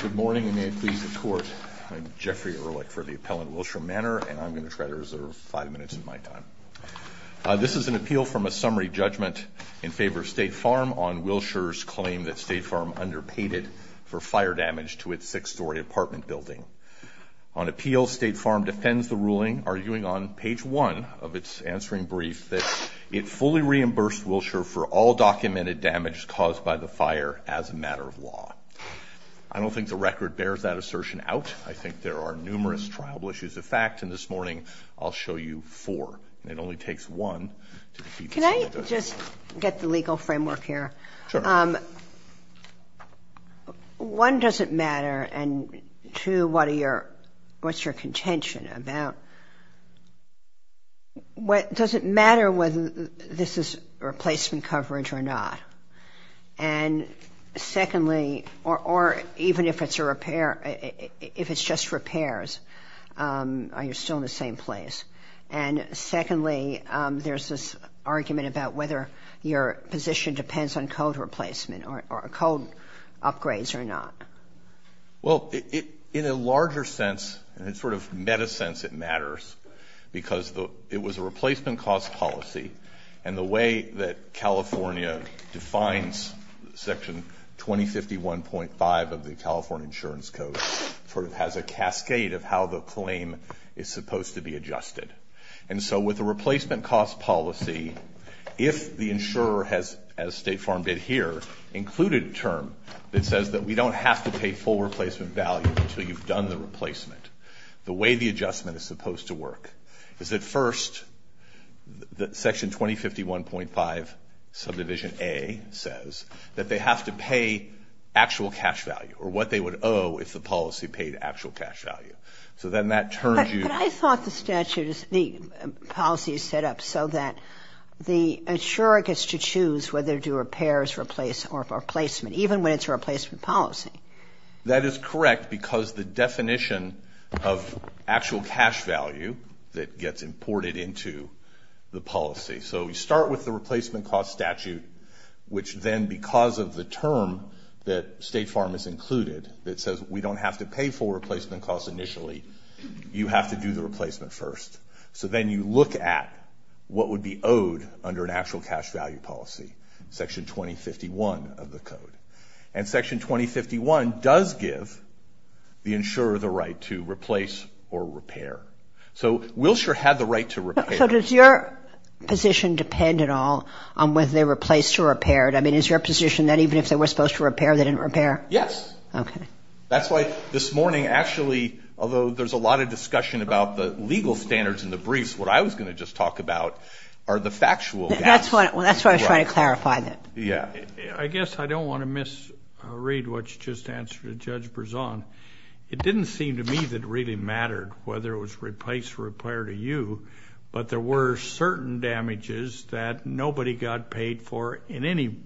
Good morning, and may it please the court. I'm Jeffrey Ehrlich for the Appellant Wilshire Manor, and I'm going to try to reserve five minutes of my time. This is an appeal from a summary judgment in favor of State Farm on Wilshire's claim that State Farm underpaid it for fire damage to its six-story apartment building. On appeal, State Farm defends the ruling, arguing on page one of its answering brief, that it fully reimbursed Wilshire for all documented damage caused by the fire as a matter of law. I don't think the record bears that assertion out. I think there are numerous triable issues of fact, and this morning I'll show you four. It only takes one to defeat this. Can I just get the legal framework here? One, does it matter? And two, what's your contention about what does it matter whether this is replacement coverage or not? And secondly, or even if it's a repair, if it's just repairs, are you still in the same place? And secondly, there's this argument about whether your position depends on code replacement or code upgrades or not. Well, in a larger sense, in a sort of meta sense, it matters because it was a replacement cost policy and the way that California defines section 2051.5 of the California Insurance Code sort of has a cascade of how the claim is supposed to be adjusted. And so with the replacement cost policy, if the insurer has, as State Farm did here, included a term that says that we don't have to pay full replacement value until you've done the replacement, the way the adjustment is supposed to work is that first that section 2051.5 subdivision A says that they have to pay actual cash value or what they would owe if the policy paid actual cash value. So then that turns you... But I thought the statute is, the policy is set up so that the insurer gets to choose whether to do repairs or replacement, even when it's a replacement policy. That is correct because the definition of actual cash value that gets imported into the policy. So we start with the replacement cost statute, which then because of the term that State Farm has included that says we don't have to pay for replacement costs initially, you have to do the replacement first. So then you look at what would be owed under an of the code. And section 2051 does give the insurer the right to replace or repair. So Wilshire had the right to repair. So does your position depend at all on whether they replaced or repaired? I mean, is your position that even if they were supposed to repair, they didn't repair? Yes. Okay. That's why this morning actually, although there's a lot of discussion about the legal standards in the briefs, what I was going to just talk about are the factual gaps. That's why I was trying to clarify that. Yeah. I guess I don't want to misread what you just answered to Judge Berzon. It didn't seem to me that really mattered whether it was replace or repair to you, but there were certain damages that nobody got paid for in any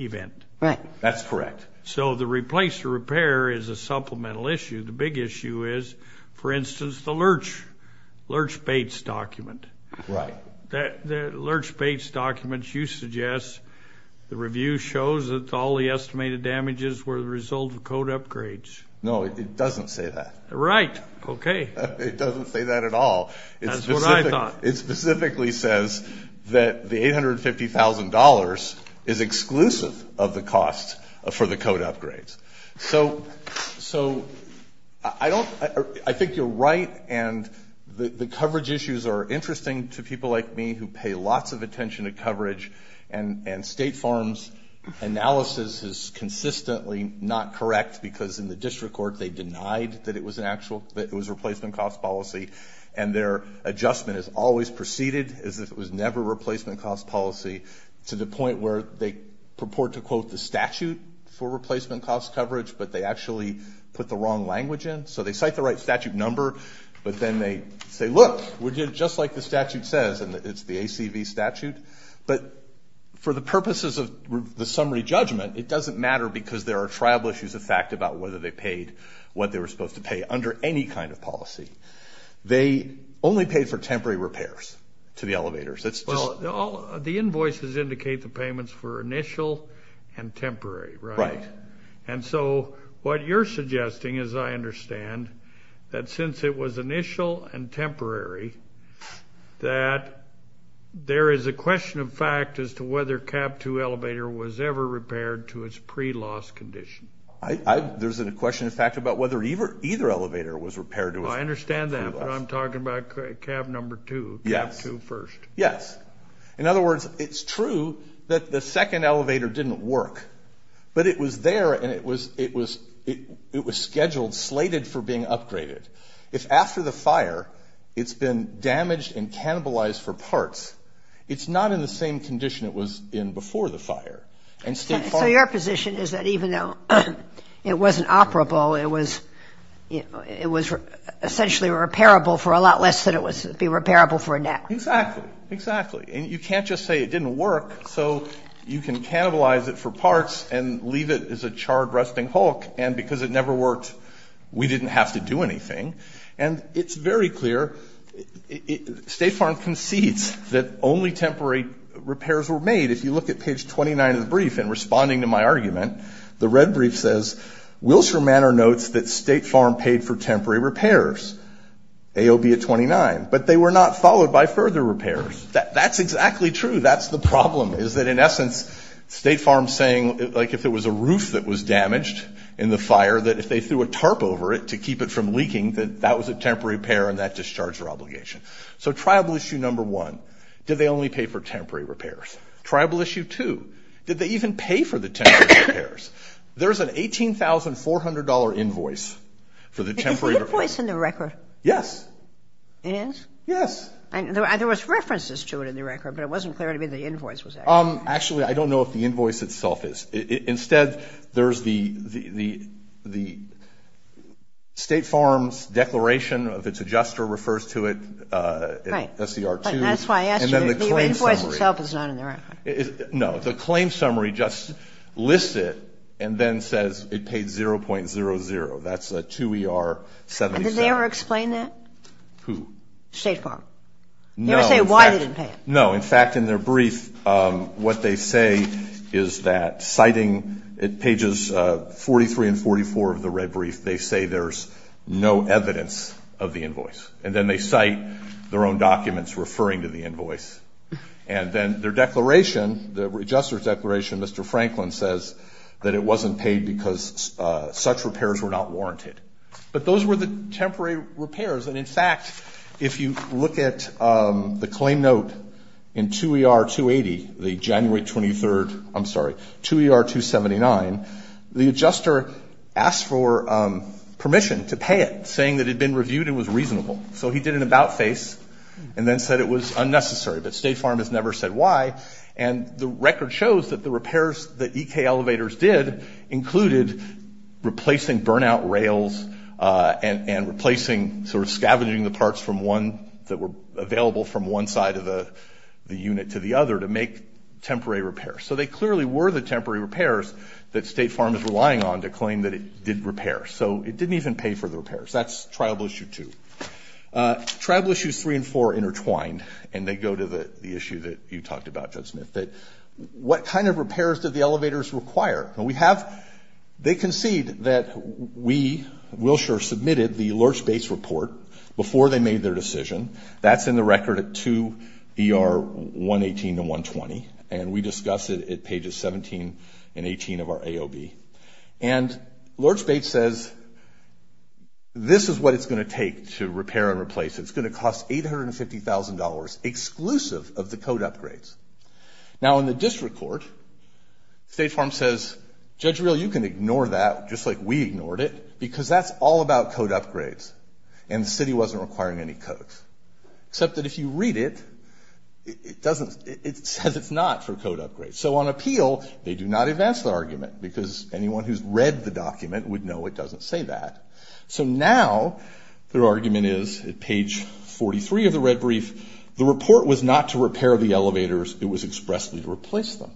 event. Right. That's correct. So the replace or repair is a supplemental issue. The big issue is, for instance, the Lurch Bates document. Right. The Lurch Bates document, you suggest the review shows that all the estimated damages were the result of code upgrades. No, it doesn't say that. Right. Okay. It doesn't say that at all. That's what I thought. It specifically says that the $850,000 is exclusive of the cost for the code upgrades. So, so I think you're right, and the coverage issues are interesting to people like me who pay lots of attention to coverage, and State Farm's analysis is consistently not correct, because in the district court, they denied that it was a replacement cost policy, and their adjustment has always proceeded as if it was never replacement cost policy, to the point where they purport to quote the statute for replacement cost coverage, but they actually put the wrong language in. So they cite the right statute number, but then they say, look, we did it just like the statute says, and it's the ACV statute. But for the purposes of the summary judgment, it doesn't matter, because there are tribal issues of fact about whether they paid what they were supposed to pay under any kind of policy. They only paid for temporary repairs to the elevators. It's just... The invoices indicate the payments were initial and temporary, right? And so what you're suggesting, as I understand, that since it was initial and temporary, that there is a question of fact as to whether CAV 2 elevator was ever repaired to its pre-loss condition. There's a question of fact about whether either elevator was repaired to its pre-loss. I understand that, but I'm talking about CAV number 2, CAV 2 first. Yes. In other words, it's true that the second elevator didn't work, but it was there and it was scheduled, slated for being upgraded. If after the fire, it's been damaged and cannibalized for parts, it's not in the same condition it was in before the fire. So your position is that even though it wasn't operable, it was essentially repairable for a lot less than it would be repairable for now? Exactly. Exactly. And you can't just say it didn't work, so you can cannibalize it for parts and leave it as a charred resting hulk. And because it never worked, we didn't have to do anything. And it's very clear State Farm concedes that only temporary repairs were made. If you look at page 29 of the brief and responding to my argument, the red brief says, Wilshire Manor notes that State Farm paid for temporary repairs, AOB at 29, but they were not followed by further repairs. That's exactly true. That's the problem, is that in essence, State Farm's saying, like, if it was a roof that was damaged in the fire, that if they threw a tarp over it to keep it from leaking, that that was a temporary repair and that discharged their obligation. So tribal issue number one, did they only pay for temporary repairs? Tribal issue two, did they even pay for the temporary repairs? There's an $18,400 invoice for the temporary repairs. Is the invoice in the record? Yes. It is? Yes. And there was references to it in the record, but it wasn't clear to me the invoice was there. Actually, I don't know if the invoice itself is. Instead, there's the State Farm's declaration of its adjuster refers to it in SER 2. Right. But that's why I asked you if the invoice itself is not in the record. No, the claim summary just lists it and then says it paid $0.00. That's a 2ER 77. And did they ever explain that? Who? State Farm. They never say why they didn't pay it. No. In fact, in their brief, what they say is that citing pages 43 and 44 of the red brief, they say there's no evidence of the invoice. And then they cite their own documents referring to the invoice. And then their declaration, the adjuster's declaration, Mr. Franklin says that it wasn't paid because such were the temporary repairs. And in fact, if you look at the claim note in 2ER 280, the January 23rd, I'm sorry, 2ER 279, the adjuster asked for permission to pay it, saying that it'd been reviewed and was reasonable. So he did an about face and then said it was unnecessary, but State Farm has never said why. And the record shows that the repairs that EK elevators did included replacing burnout rails and replacing sort of scavenging the parts from one that were available from one side of the unit to the other to make temporary repairs. So they clearly were the temporary repairs that State Farm is relying on to claim that it did repair. So it didn't even pay for the repairs. That's Tribal Issue 2. Tribal Issues 3 and 4 intertwined, and they go to the issue that you talked about, Judge Smith, that what kind of repairs did the elevators require? And we have, they concede that we, Wilshire, submitted the Lord's Base report before they made their decision. That's in the record at 2ER 118 and 120, and we discuss it at pages 17 and 18 of our AOB. And Lord's Base says, this is what it's going to take to repair and replace. It's going to cost $850,000 exclusive of the code upgrades. Now, in the district court, State Farm says, Judge Reel, you can ignore that just like we ignored it because that's all about code upgrades, and the city wasn't requiring any codes, except that if you read it, it doesn't, it says it's not for code upgrades. So on appeal, they do not advance the argument because anyone who's read the document would know it doesn't say that. So now their argument is at page 43 of the red brief, the report was not to replace the elevators, it was expressly to replace them,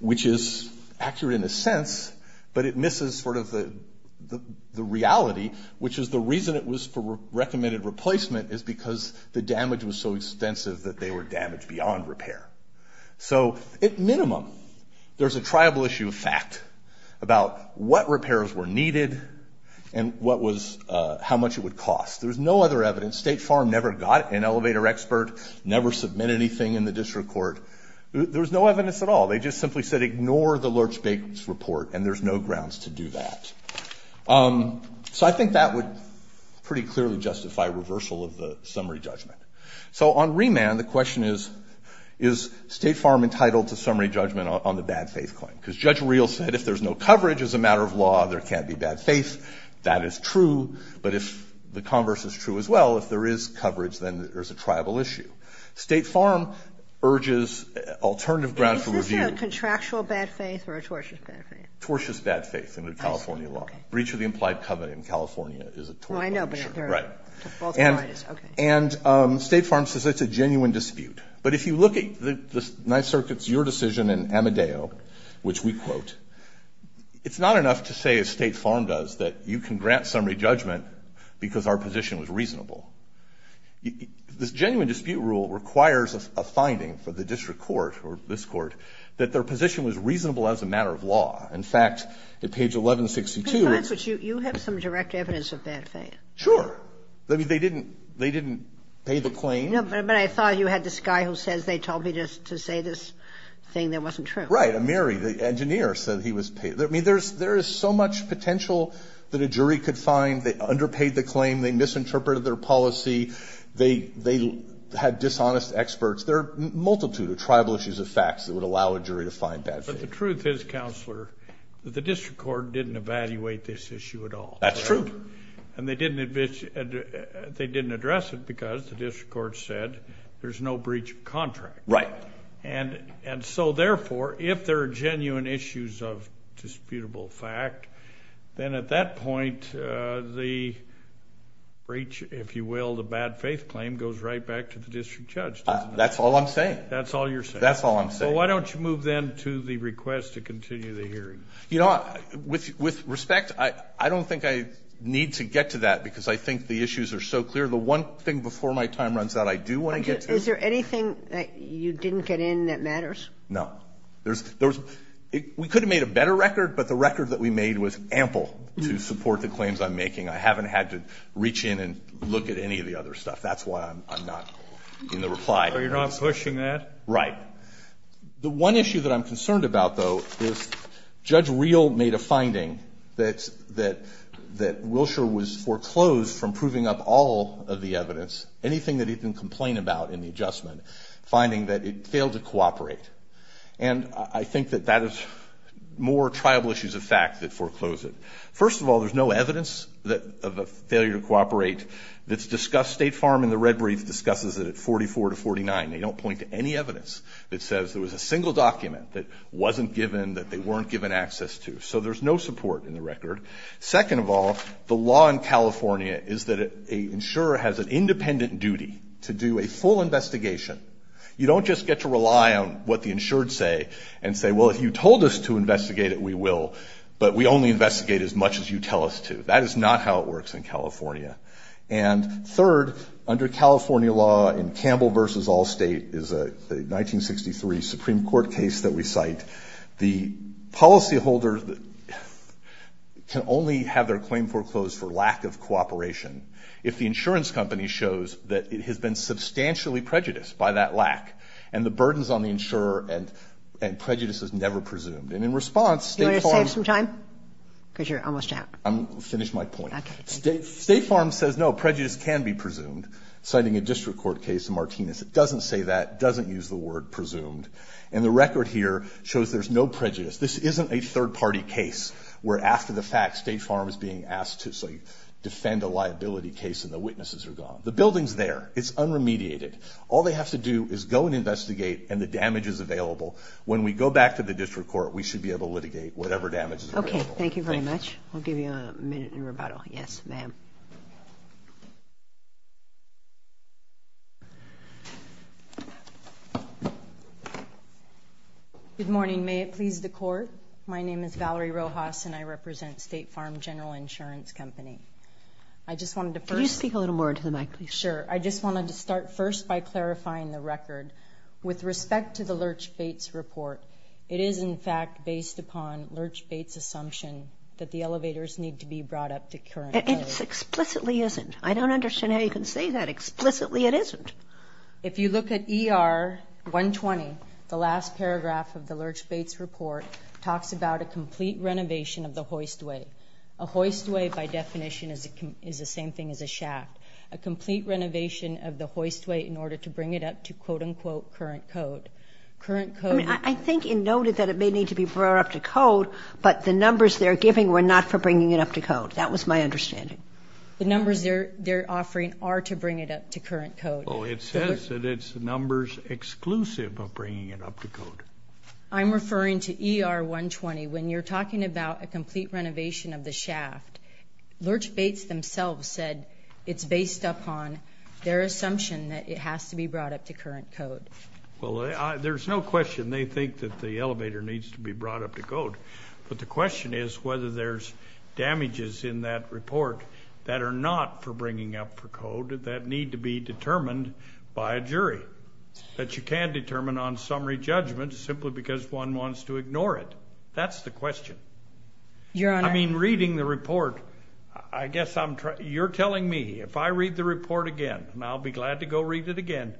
which is accurate in a sense, but it misses sort of the reality, which is the reason it was for recommended replacement is because the damage was so extensive that they were damaged beyond repair. So at minimum, there's a triable issue of fact about what repairs were needed and what was, how much it would cost. There was no other evidence. State Farm never got an elevator expert, never submitted anything in the district court. There was no evidence at all. They just simply said ignore the Lurch-Bakers report, and there's no grounds to do that. So I think that would pretty clearly justify reversal of the summary judgment. So on remand, the question is, is State Farm entitled to summary judgment on the bad faith claim? Because Judge Reel said if there's no coverage as a matter of law, there can't be bad faith. That is true, but if the converse is true as well, if there is coverage, then there's a triable issue. State Farm urges alternative grounds for review. Is this a contractual bad faith or a tortious bad faith? Tortious bad faith in the California law. Breach of the implied covenant in California is a tort law, I'm sure. Well, I know, but they're both parties. Right. And State Farm says it's a genuine dispute. But if you look at the Ninth Circuit's, your decision in Amadeo, which we quote, quote, it's not enough to say, as State Farm does, that you can grant summary judgment because our position was reasonable. This genuine dispute rule requires a finding for the district court or this court that their position was reasonable as a matter of law. In fact, at page 1162, it's – But you have some direct evidence of bad faith. Sure. I mean, they didn't pay the claim. No, but I thought you had this guy who says they told me to say this thing that wasn't true. Right. Amiri, the engineer, said he was – I mean, there is so much potential that a jury could find. They underpaid the claim. They misinterpreted their policy. They had dishonest experts. There are a multitude of tribal issues of facts that would allow a jury to find bad faith. But the truth is, Counselor, that the district court didn't evaluate this issue at all. That's true. And they didn't address it because the district court said there's no breach of contract. Right. And so, therefore, if there are genuine issues of disputable fact, then at that point, the breach, if you will, the bad faith claim, goes right back to the district judge. That's all I'm saying. That's all you're saying. That's all I'm saying. Well, why don't you move then to the request to continue the hearing? You know, with respect, I don't think I need to get to that because I think the issues are so clear. The one thing before my time runs out I do want to get to – Is there anything that you didn't get in that matters? No. There's – we could have made a better record, but the record that we made was ample to support the claims I'm making. I haven't had to reach in and look at any of the other stuff. That's why I'm not in the reply. Oh, you're not pushing that? Right. The one issue that I'm concerned about, though, is Judge Reel made a finding that Wilshire was foreclosed from proving up all of the evidence, anything that he can complain about in the adjustment, finding that it failed to cooperate. And I think that that is more triable issues of fact that foreclose it. First of all, there's no evidence of a failure to cooperate that's discussed. State Farm in the red brief discusses it at 44 to 49. They don't point to any evidence that says there was a single document that wasn't given, that they weren't given access to. So there's no support in the record. Second of all, the law in California is that an insurer has an independent duty to do a full investigation. You don't just get to rely on what the insured say and say, well, if you told us to investigate it, we will, but we only investigate as much as you tell us to. That is not how it works in California. And third, under California law in Campbell v. Allstate is a 1963 Supreme Court case that we cite. The policyholder can only have their claim foreclosed for lack of cooperation. If the insurance company shows that it has been substantially prejudiced by that lack, and the burdens on the insurer and prejudice is never presumed. And in response, State Farm- You want to save some time? Because you're almost out. I'm, finish my point. Okay. State Farm says, no, prejudice can be presumed. Citing a district court case in Martinez, it doesn't say that, doesn't use the word presumed. And the record here shows there's no prejudice. This isn't a third party case where after the fact, State Farm is being asked to, say, defend a liability case and the witnesses are gone. The building's there, it's unremediated. All they have to do is go and investigate and the damage is available. When we go back to the district court, we should be able to litigate whatever damage is available. Okay, thank you very much. I'll give you a minute in rebuttal. Yes, ma'am. Good morning. May it please the court? My name is Valerie Rojas and I represent State Farm General Insurance Company. I just wanted to first- Can you speak a little more into the mic, please? Sure. I just wanted to start first by clarifying the record. With respect to the Lurch-Bates report, it is in fact based upon Lurch-Bates' assumption that the elevators need to be brought up to current level. It explicitly isn't. I don't understand how you can say that. Explicitly it isn't. If you look at ER 120, the last paragraph of the Lurch-Bates report talks about a complete renovation of the hoistway. A hoistway, by definition, is the same thing as a shaft. A complete renovation of the hoistway in order to bring it up to, quote unquote, current code. Current code- I think it noted that it may need to be brought up to code, but the numbers they're giving were not for bringing it up to code. That was my understanding. The numbers they're offering are to bring it up to current code. Well, it says that it's numbers exclusive of bringing it up to code. I'm referring to ER 120. When you're talking about a complete renovation of the shaft, Lurch-Bates themselves said it's based upon their assumption that it has to be brought up to current code. Well, there's no question they think that the elevator needs to be brought up to code, but the question is whether there's damages in that report that are not for bringing up to code that need to be determined by a jury. That you can't determine on summary judgment simply because one wants to ignore it. That's the question. I mean, reading the report, I guess you're telling me, if I read the report again, and I'll be glad to go read it again,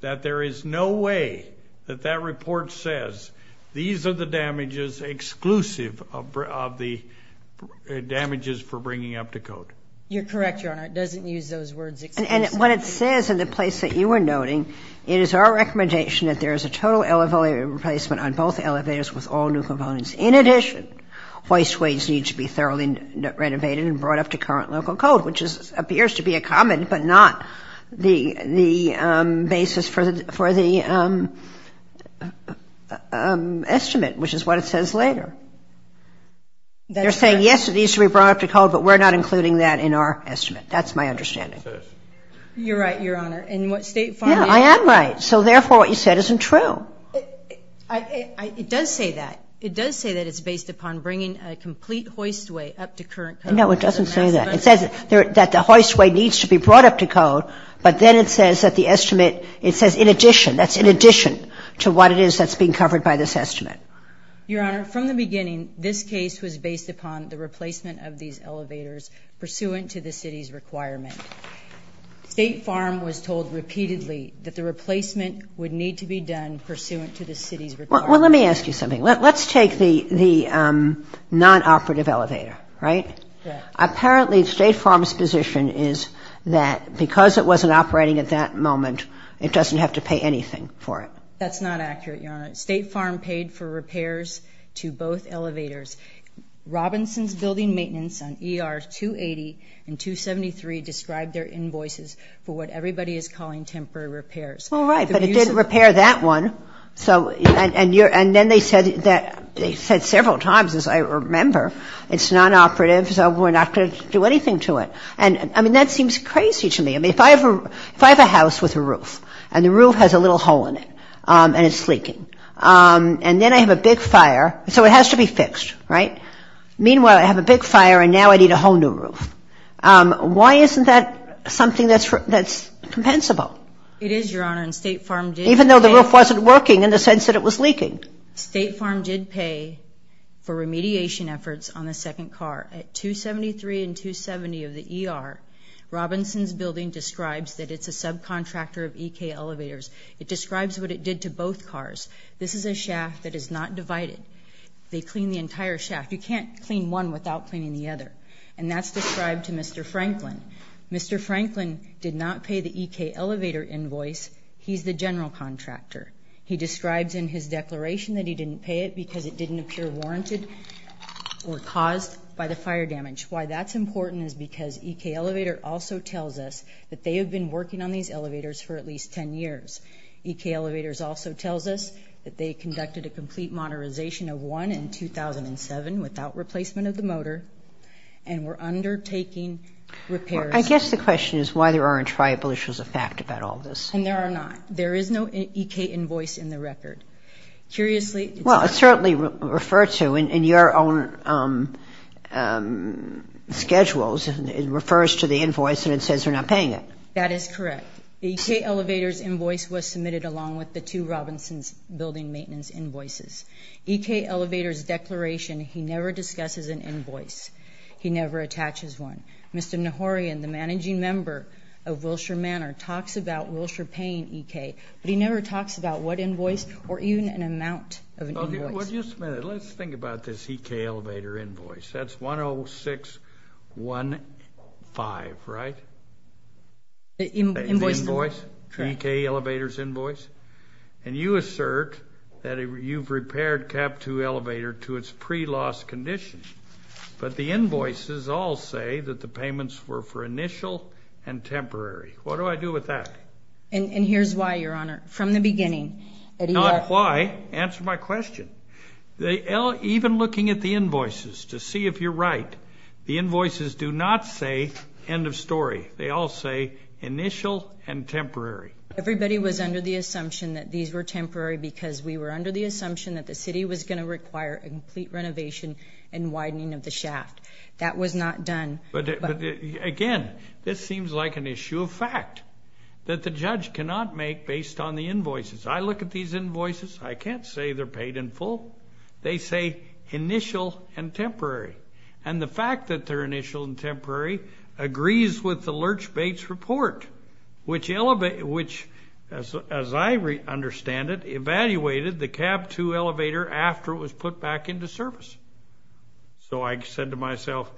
that there is no way that that report says these are the damages exclusive of the damages for bringing up to code. You're correct, Your Honor. It doesn't use those words exclusively. What it says in the place that you were noting, it is our recommendation that there is a total elevator replacement on both elevators with all new components. In addition, wasteways need to be thoroughly renovated and brought up to current local code, which appears to be a common, but not the basis for the estimate, which is what it says later. They're saying, yes, it needs to be brought up to code, but we're not including that in our estimate. That's my understanding. You're right, Your Honor. And what State Farm is... Yeah, I am right. So, therefore, what you said isn't true. It does say that. It does say that it's based upon bringing a complete hoistway up to current code. No, it doesn't say that. It says that the hoistway needs to be brought up to code, but then it says that the estimate, it says in addition. That's in addition to what it is that's being covered by this estimate. Your Honor, from the beginning, this case was based upon the replacement of these elevators pursuant to the city's requirement. State Farm was told repeatedly that the replacement would need to be done pursuant to the city's requirement. Well, let me ask you something. Let's take the nonoperative elevator, right? Yeah. Apparently, State Farm's position is that because it wasn't operating at that moment, it doesn't have to pay anything for it. That's not accurate, Your Honor. State Farm paid for repairs to both elevators. Robinson's Building Maintenance on ER 280 and 273 described their invoices for what everybody is calling temporary repairs. Well, right, but it did repair that one. So, and then they said several times, as I remember, it's nonoperative, so we're not going to do anything to it. And, I mean, that seems crazy to me. I mean, if I have a house with a roof, and the roof has a little hole in it, and it's leaking, and then I have a big fire, so it has to be fixed, right? Meanwhile, I have a big fire, and now I need a whole new roof. Why isn't that something that's compensable? It is, Your Honor, and State Farm did pay. Even though the roof wasn't working in the sense that it was leaking. State Farm did pay for remediation efforts on the second car. At 273 and 270 of the ER, Robinson's Building describes that it's a subcontractor of EK Elevators. It describes what it did to both cars. This is a shaft that is not divided. They clean the entire shaft. You can't clean one without cleaning the other. And that's described to Mr. Franklin. Mr. Franklin did not pay the EK Elevator invoice. He's the general contractor. He describes in his declaration that he didn't pay it because it didn't appear warranted or caused by the fire damage. Why that's important is because EK Elevator also tells us that they have been working on these elevators for at least 10 years. EK Elevators also tells us that they conducted a complete modernization of one in 2007 without replacement of the motor, and were undertaking repairs. I guess the question is why there aren't tributaries of fact about all this. And there are not. There is no EK invoice in the record. Curiously, it's not. Well, it's certainly referred to in your own schedules. It refers to the invoice and it says you're not paying it. That is correct. EK Elevators invoice was submitted along with the two Robinson's Building maintenance invoices. EK Elevators declaration, he never discusses an invoice. He never attaches one. Mr. Nahorian, the managing member of Wilshire Manor, talks about Wilshire paying EK, but he never talks about what invoice or even an amount of an invoice. Well, just a minute. Let's think about this EK Elevator invoice. That's 10615, right? The invoice. The invoice. EK Elevators invoice. And you assert that you've repaired CAP-2 Elevator to its pre-loss condition. But the invoices all say that the payments were for initial and temporary. What do I do with that? And here's why, Your Honor. From the beginning. Not why. Answer my question. Even looking at the invoices to see if you're right, the invoices do not say end of story. They all say initial and temporary. Everybody was under the assumption that these were temporary because we were under the assumption that the city was going to require a complete renovation and widening of the shaft. That was not done. But again, this seems like an issue of fact that the judge cannot make based on the invoices. I look at these invoices. I can't say they're paid in full. They say initial and temporary. And the fact that they're initial and temporary agrees with the Lurch-Bates report, which, as I understand it, evaluated the CAP-2 Elevator after it was put back into service. So I said to myself,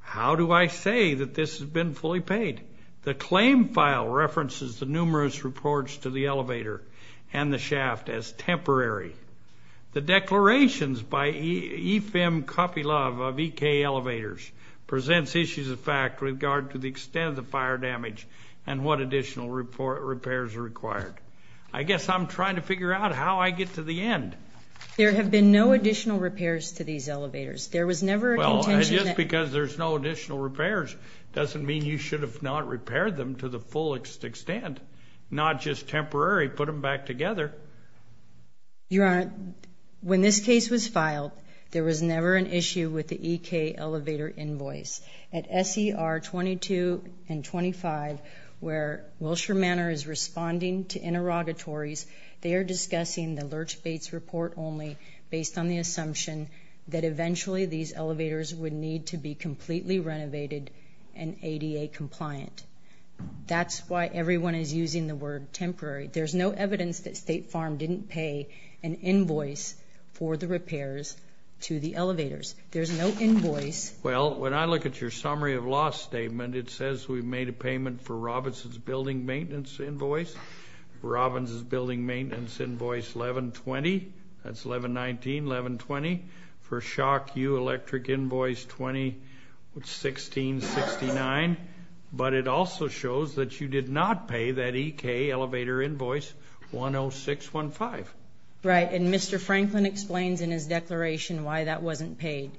how do I say that this has been fully paid? The claim file references the numerous reports to the elevator and the shaft as temporary. The declarations by EFM Coffeylove of EK Elevators presents issues of fact with regard to the extent of the fire damage and what additional repairs are required. I guess I'm trying to figure out how I get to the end. There have been no additional repairs to these elevators. There was never a contention that- Well, just because there's no additional repairs doesn't mean you should have not repaired them to the fullest extent. Not just temporary. Put them back together. Your Honor, when this case was filed, there was never an issue with the EK Elevator invoice. At SER 22 and 25, where Wilshire Manor is responding to interrogatories, they are discussing the Lurch-Bates report only based on the assumption that eventually these elevators would need to be completely renovated and ADA compliant. That's why everyone is using the word temporary. There's no evidence that State Farm didn't pay an invoice for the repairs to the elevators. There's no invoice. Well, when I look at your summary of loss statement, it says we've made a payment for Robinson's building maintenance invoice, Robinson's building maintenance invoice 11-20. That's 11-19, 11-20. For Shock U electric invoice 2016-69. But it also shows that you did not pay that EK elevator invoice 106-15. Right, and Mr. Franklin explains in his declaration why that wasn't paid.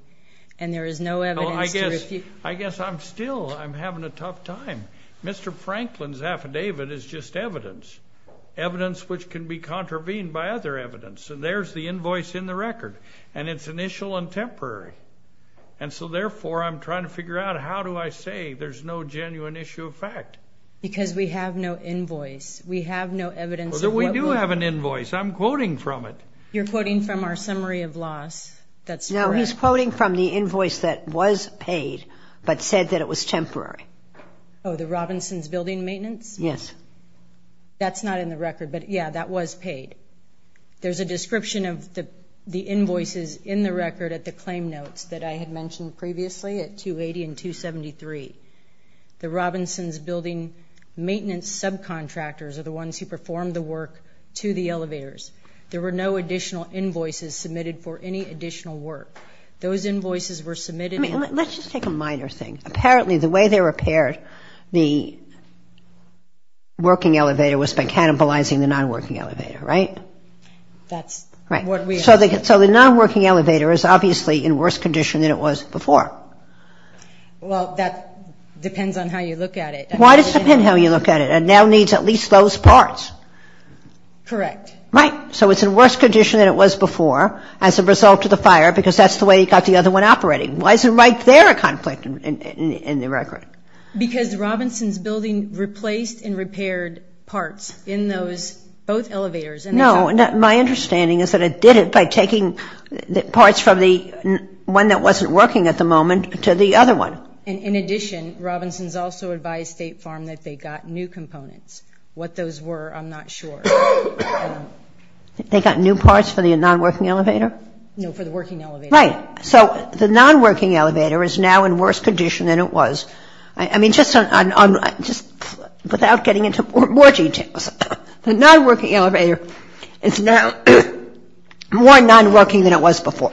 And there is no evidence to refute. I guess I'm still, I'm having a tough time. Mr. Franklin's affidavit is just evidence. Evidence which can be contravened by other evidence. And there's the invoice in the record. And it's initial and temporary. And so, therefore, I'm trying to figure out how do I say there's no genuine issue of fact. Because we have no invoice. We have no evidence of what was. But we do have an invoice. I'm quoting from it. You're quoting from our summary of loss. That's correct. No, he's quoting from the invoice that was paid, but said that it was temporary. Oh, the Robinson's building maintenance? Yes. That's not in the record. But, yeah, that was paid. There's a description of the invoices in the record at the claim notes that I had mentioned previously at 280 and 273. The Robinson's building maintenance subcontractors are the ones who performed the work to the elevators. There were no additional invoices submitted for any additional work. Those invoices were submitted. I mean, let's just take a minor thing. Apparently, the way they repaired the working elevator was by cannibalizing the non-working elevator, right? That's what we assume. So the non-working elevator is obviously in worse condition than it was before. Well, that depends on how you look at it. Why does it depend how you look at it? It now needs at least those parts. Correct. Right. So it's in worse condition than it was before as a result of the fire because that's the way he got the other one operating. Why is it right there a conflict in the record? Because Robinson's building replaced and repaired parts in those both elevators. No. My understanding is that it did it by taking parts from the one that wasn't working at the moment to the other one. In addition, Robinson's also advised State Farm that they got new components. What those were, I'm not sure. They got new parts for the non-working elevator? No, for the working elevator. Right. So the non-working elevator is now in worse condition than it was. I mean, just without getting into more details, the non-working elevator is now more non-working than it was before.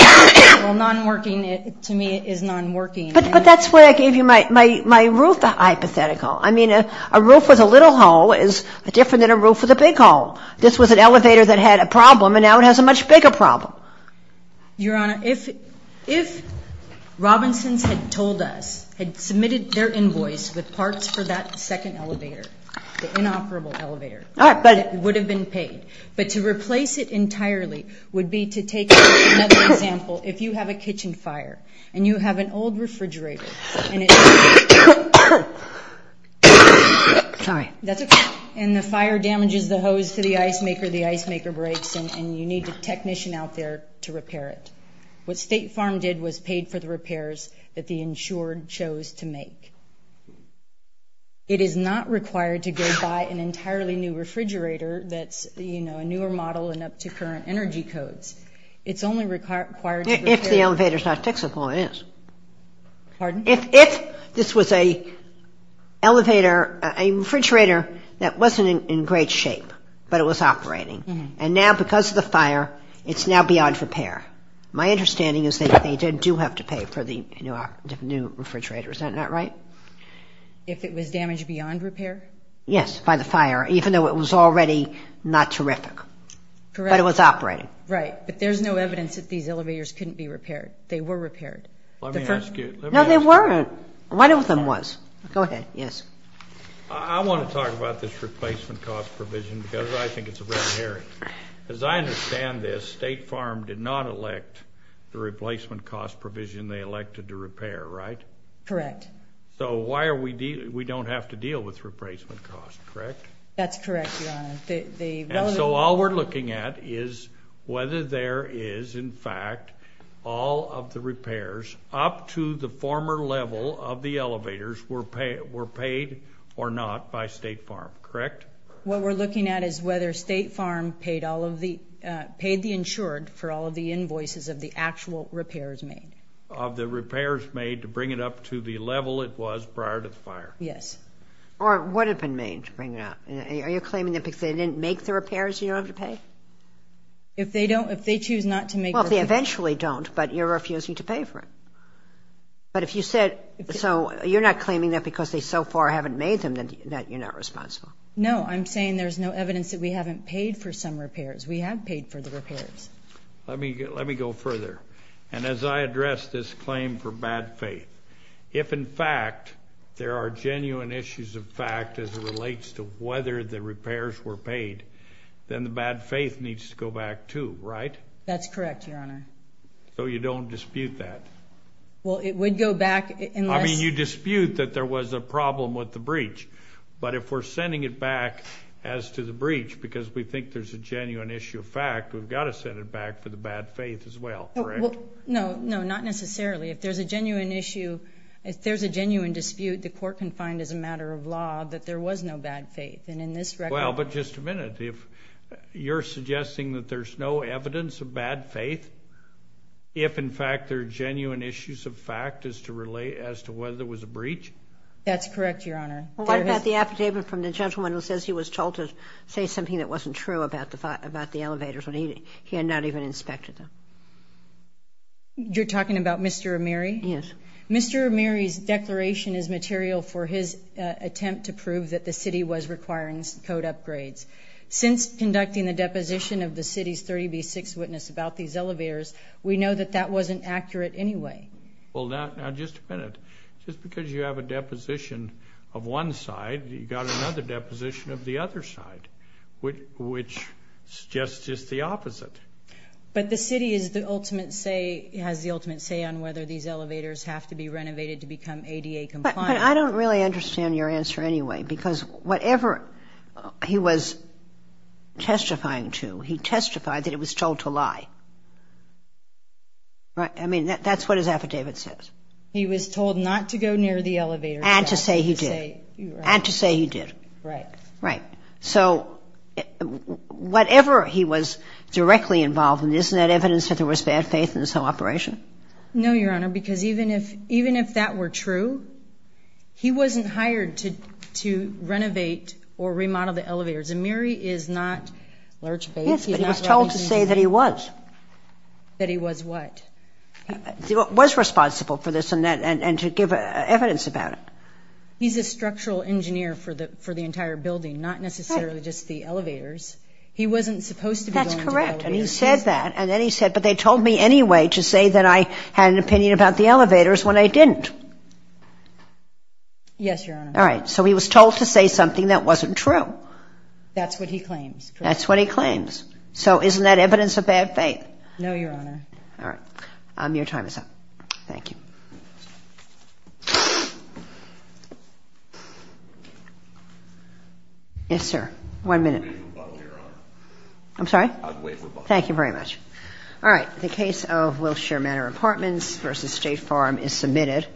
Well, non-working, to me, is non-working. But that's where I gave you my roof hypothetical. I mean, a roof with a little hole is different than a roof with a big hole. This was an elevator that had a problem, and now it has a much bigger problem. Your Honor, if Robinson's had told us, had submitted their invoice with parts for that second elevator, the inoperable elevator, it would have been paid. But to replace it entirely would be to take another example. If you have a kitchen fire, and you have an old refrigerator, and it's not working, and the fire damages the hose to the ice maker, the ice maker breaks, and you need a technician out there to repair it. What State Farm did was paid for the repairs that the insured chose to make. It is not required to go buy an entirely new refrigerator that's, you know, a newer model and up to current energy codes. It's only required to repair... If the elevator's not fixable, it is. Pardon? If this was a refrigerator that wasn't in great shape, but it was operating. And now, because of the fire, it's now beyond repair. My understanding is that they do have to pay for the new refrigerator. Is that not right? If it was damaged beyond repair? Yes, by the fire, even though it was already not terrific, but it was operating. Right, but there's no evidence that these elevators couldn't be repaired. They were repaired. Let me ask you... No, they weren't. One of them was. Go ahead, yes. I want to talk about this replacement cost provision, because I think it's a red herring. As I understand this, State Farm did not elect the replacement cost provision they elected to repair, right? Correct. So why are we... We don't have to deal with replacement costs, correct? That's correct, Your Honor. The... And so all we're looking at is whether there is, in fact, all of the repairs up to the former level of the elevators were paid or not by State Farm, correct? What we're looking at is whether State Farm paid all of the... Paid the insured for all of the invoices of the actual repairs made. Of the repairs made to bring it up to the level it was prior to the fire. Yes. Or would have been made to bring it up. Are you claiming that because they didn't make the repairs, you don't have to pay? If they don't... If they choose not to make the repairs... But if you said... So you're not claiming that because they so far haven't made them, that you're not responsible? No, I'm saying there's no evidence that we haven't paid for some repairs. We have paid for the repairs. Let me go further. And as I address this claim for bad faith, if in fact there are genuine issues of fact as it relates to whether the repairs were paid, then the bad faith needs to go back too, right? That's correct, Your Honor. So you don't dispute that? Well, it would go back unless... I mean, you dispute that there was a problem with the breach. But if we're sending it back as to the breach because we think there's a genuine issue of fact, we've got to send it back for the bad faith as well, correct? No, not necessarily. If there's a genuine issue, if there's a genuine dispute, the court can find as a matter of law that there was no bad faith. And in this record... Well, but just a minute. You're suggesting that there's no evidence of bad faith if in fact there are genuine issues of fact as to whether there was a breach? That's correct, Your Honor. What about the affidavit from the gentleman who says he was told to say something that wasn't true about the elevators when he had not even inspected them? You're talking about Mr. O'Meary? Yes. Mr. O'Meary's declaration is material for his attempt to prove that the city was requiring code upgrades. Since conducting the deposition of the city's 30B6 witness about these elevators, we know that that wasn't accurate anyway. Well, now just a minute. Just because you have a deposition of one side, you've got another deposition of the other side, which suggests just the opposite. But the city has the ultimate say on whether these elevators have to be renovated to become ADA compliant. But I don't really understand your answer anyway, because whatever he was testifying to, he testified that it was told to lie. Right? I mean, that's what his affidavit says. He was told not to go near the elevators. And to say he did. And to say he did. Right. Right. So whatever he was directly involved in, isn't that evidence that there was bad faith in this whole operation? No, Your Honor, because even if that were true, he wasn't hired to renovate or remodel the elevators. And Mary is not... Yes, but he was told to say that he was. That he was what? Was responsible for this and to give evidence about it. He's a structural engineer for the entire building, not necessarily just the elevators. He wasn't supposed to be going to the elevators. That's correct. And he said that. And then he said, but they told me anyway to say that I had an opinion about the elevators when I didn't. Yes, Your Honor. All right. So he was told to say something that wasn't true. That's what he claims. That's what he claims. So isn't that evidence of bad faith? No, Your Honor. All right. Your time is up. Thank you. Yes, sir. One minute. I'd wait for Bob, Your Honor. I'm sorry? I'd wait for Bob. Thank you very much. All right. The case of Wilshire Manor Apartments v. State Farm is submitted.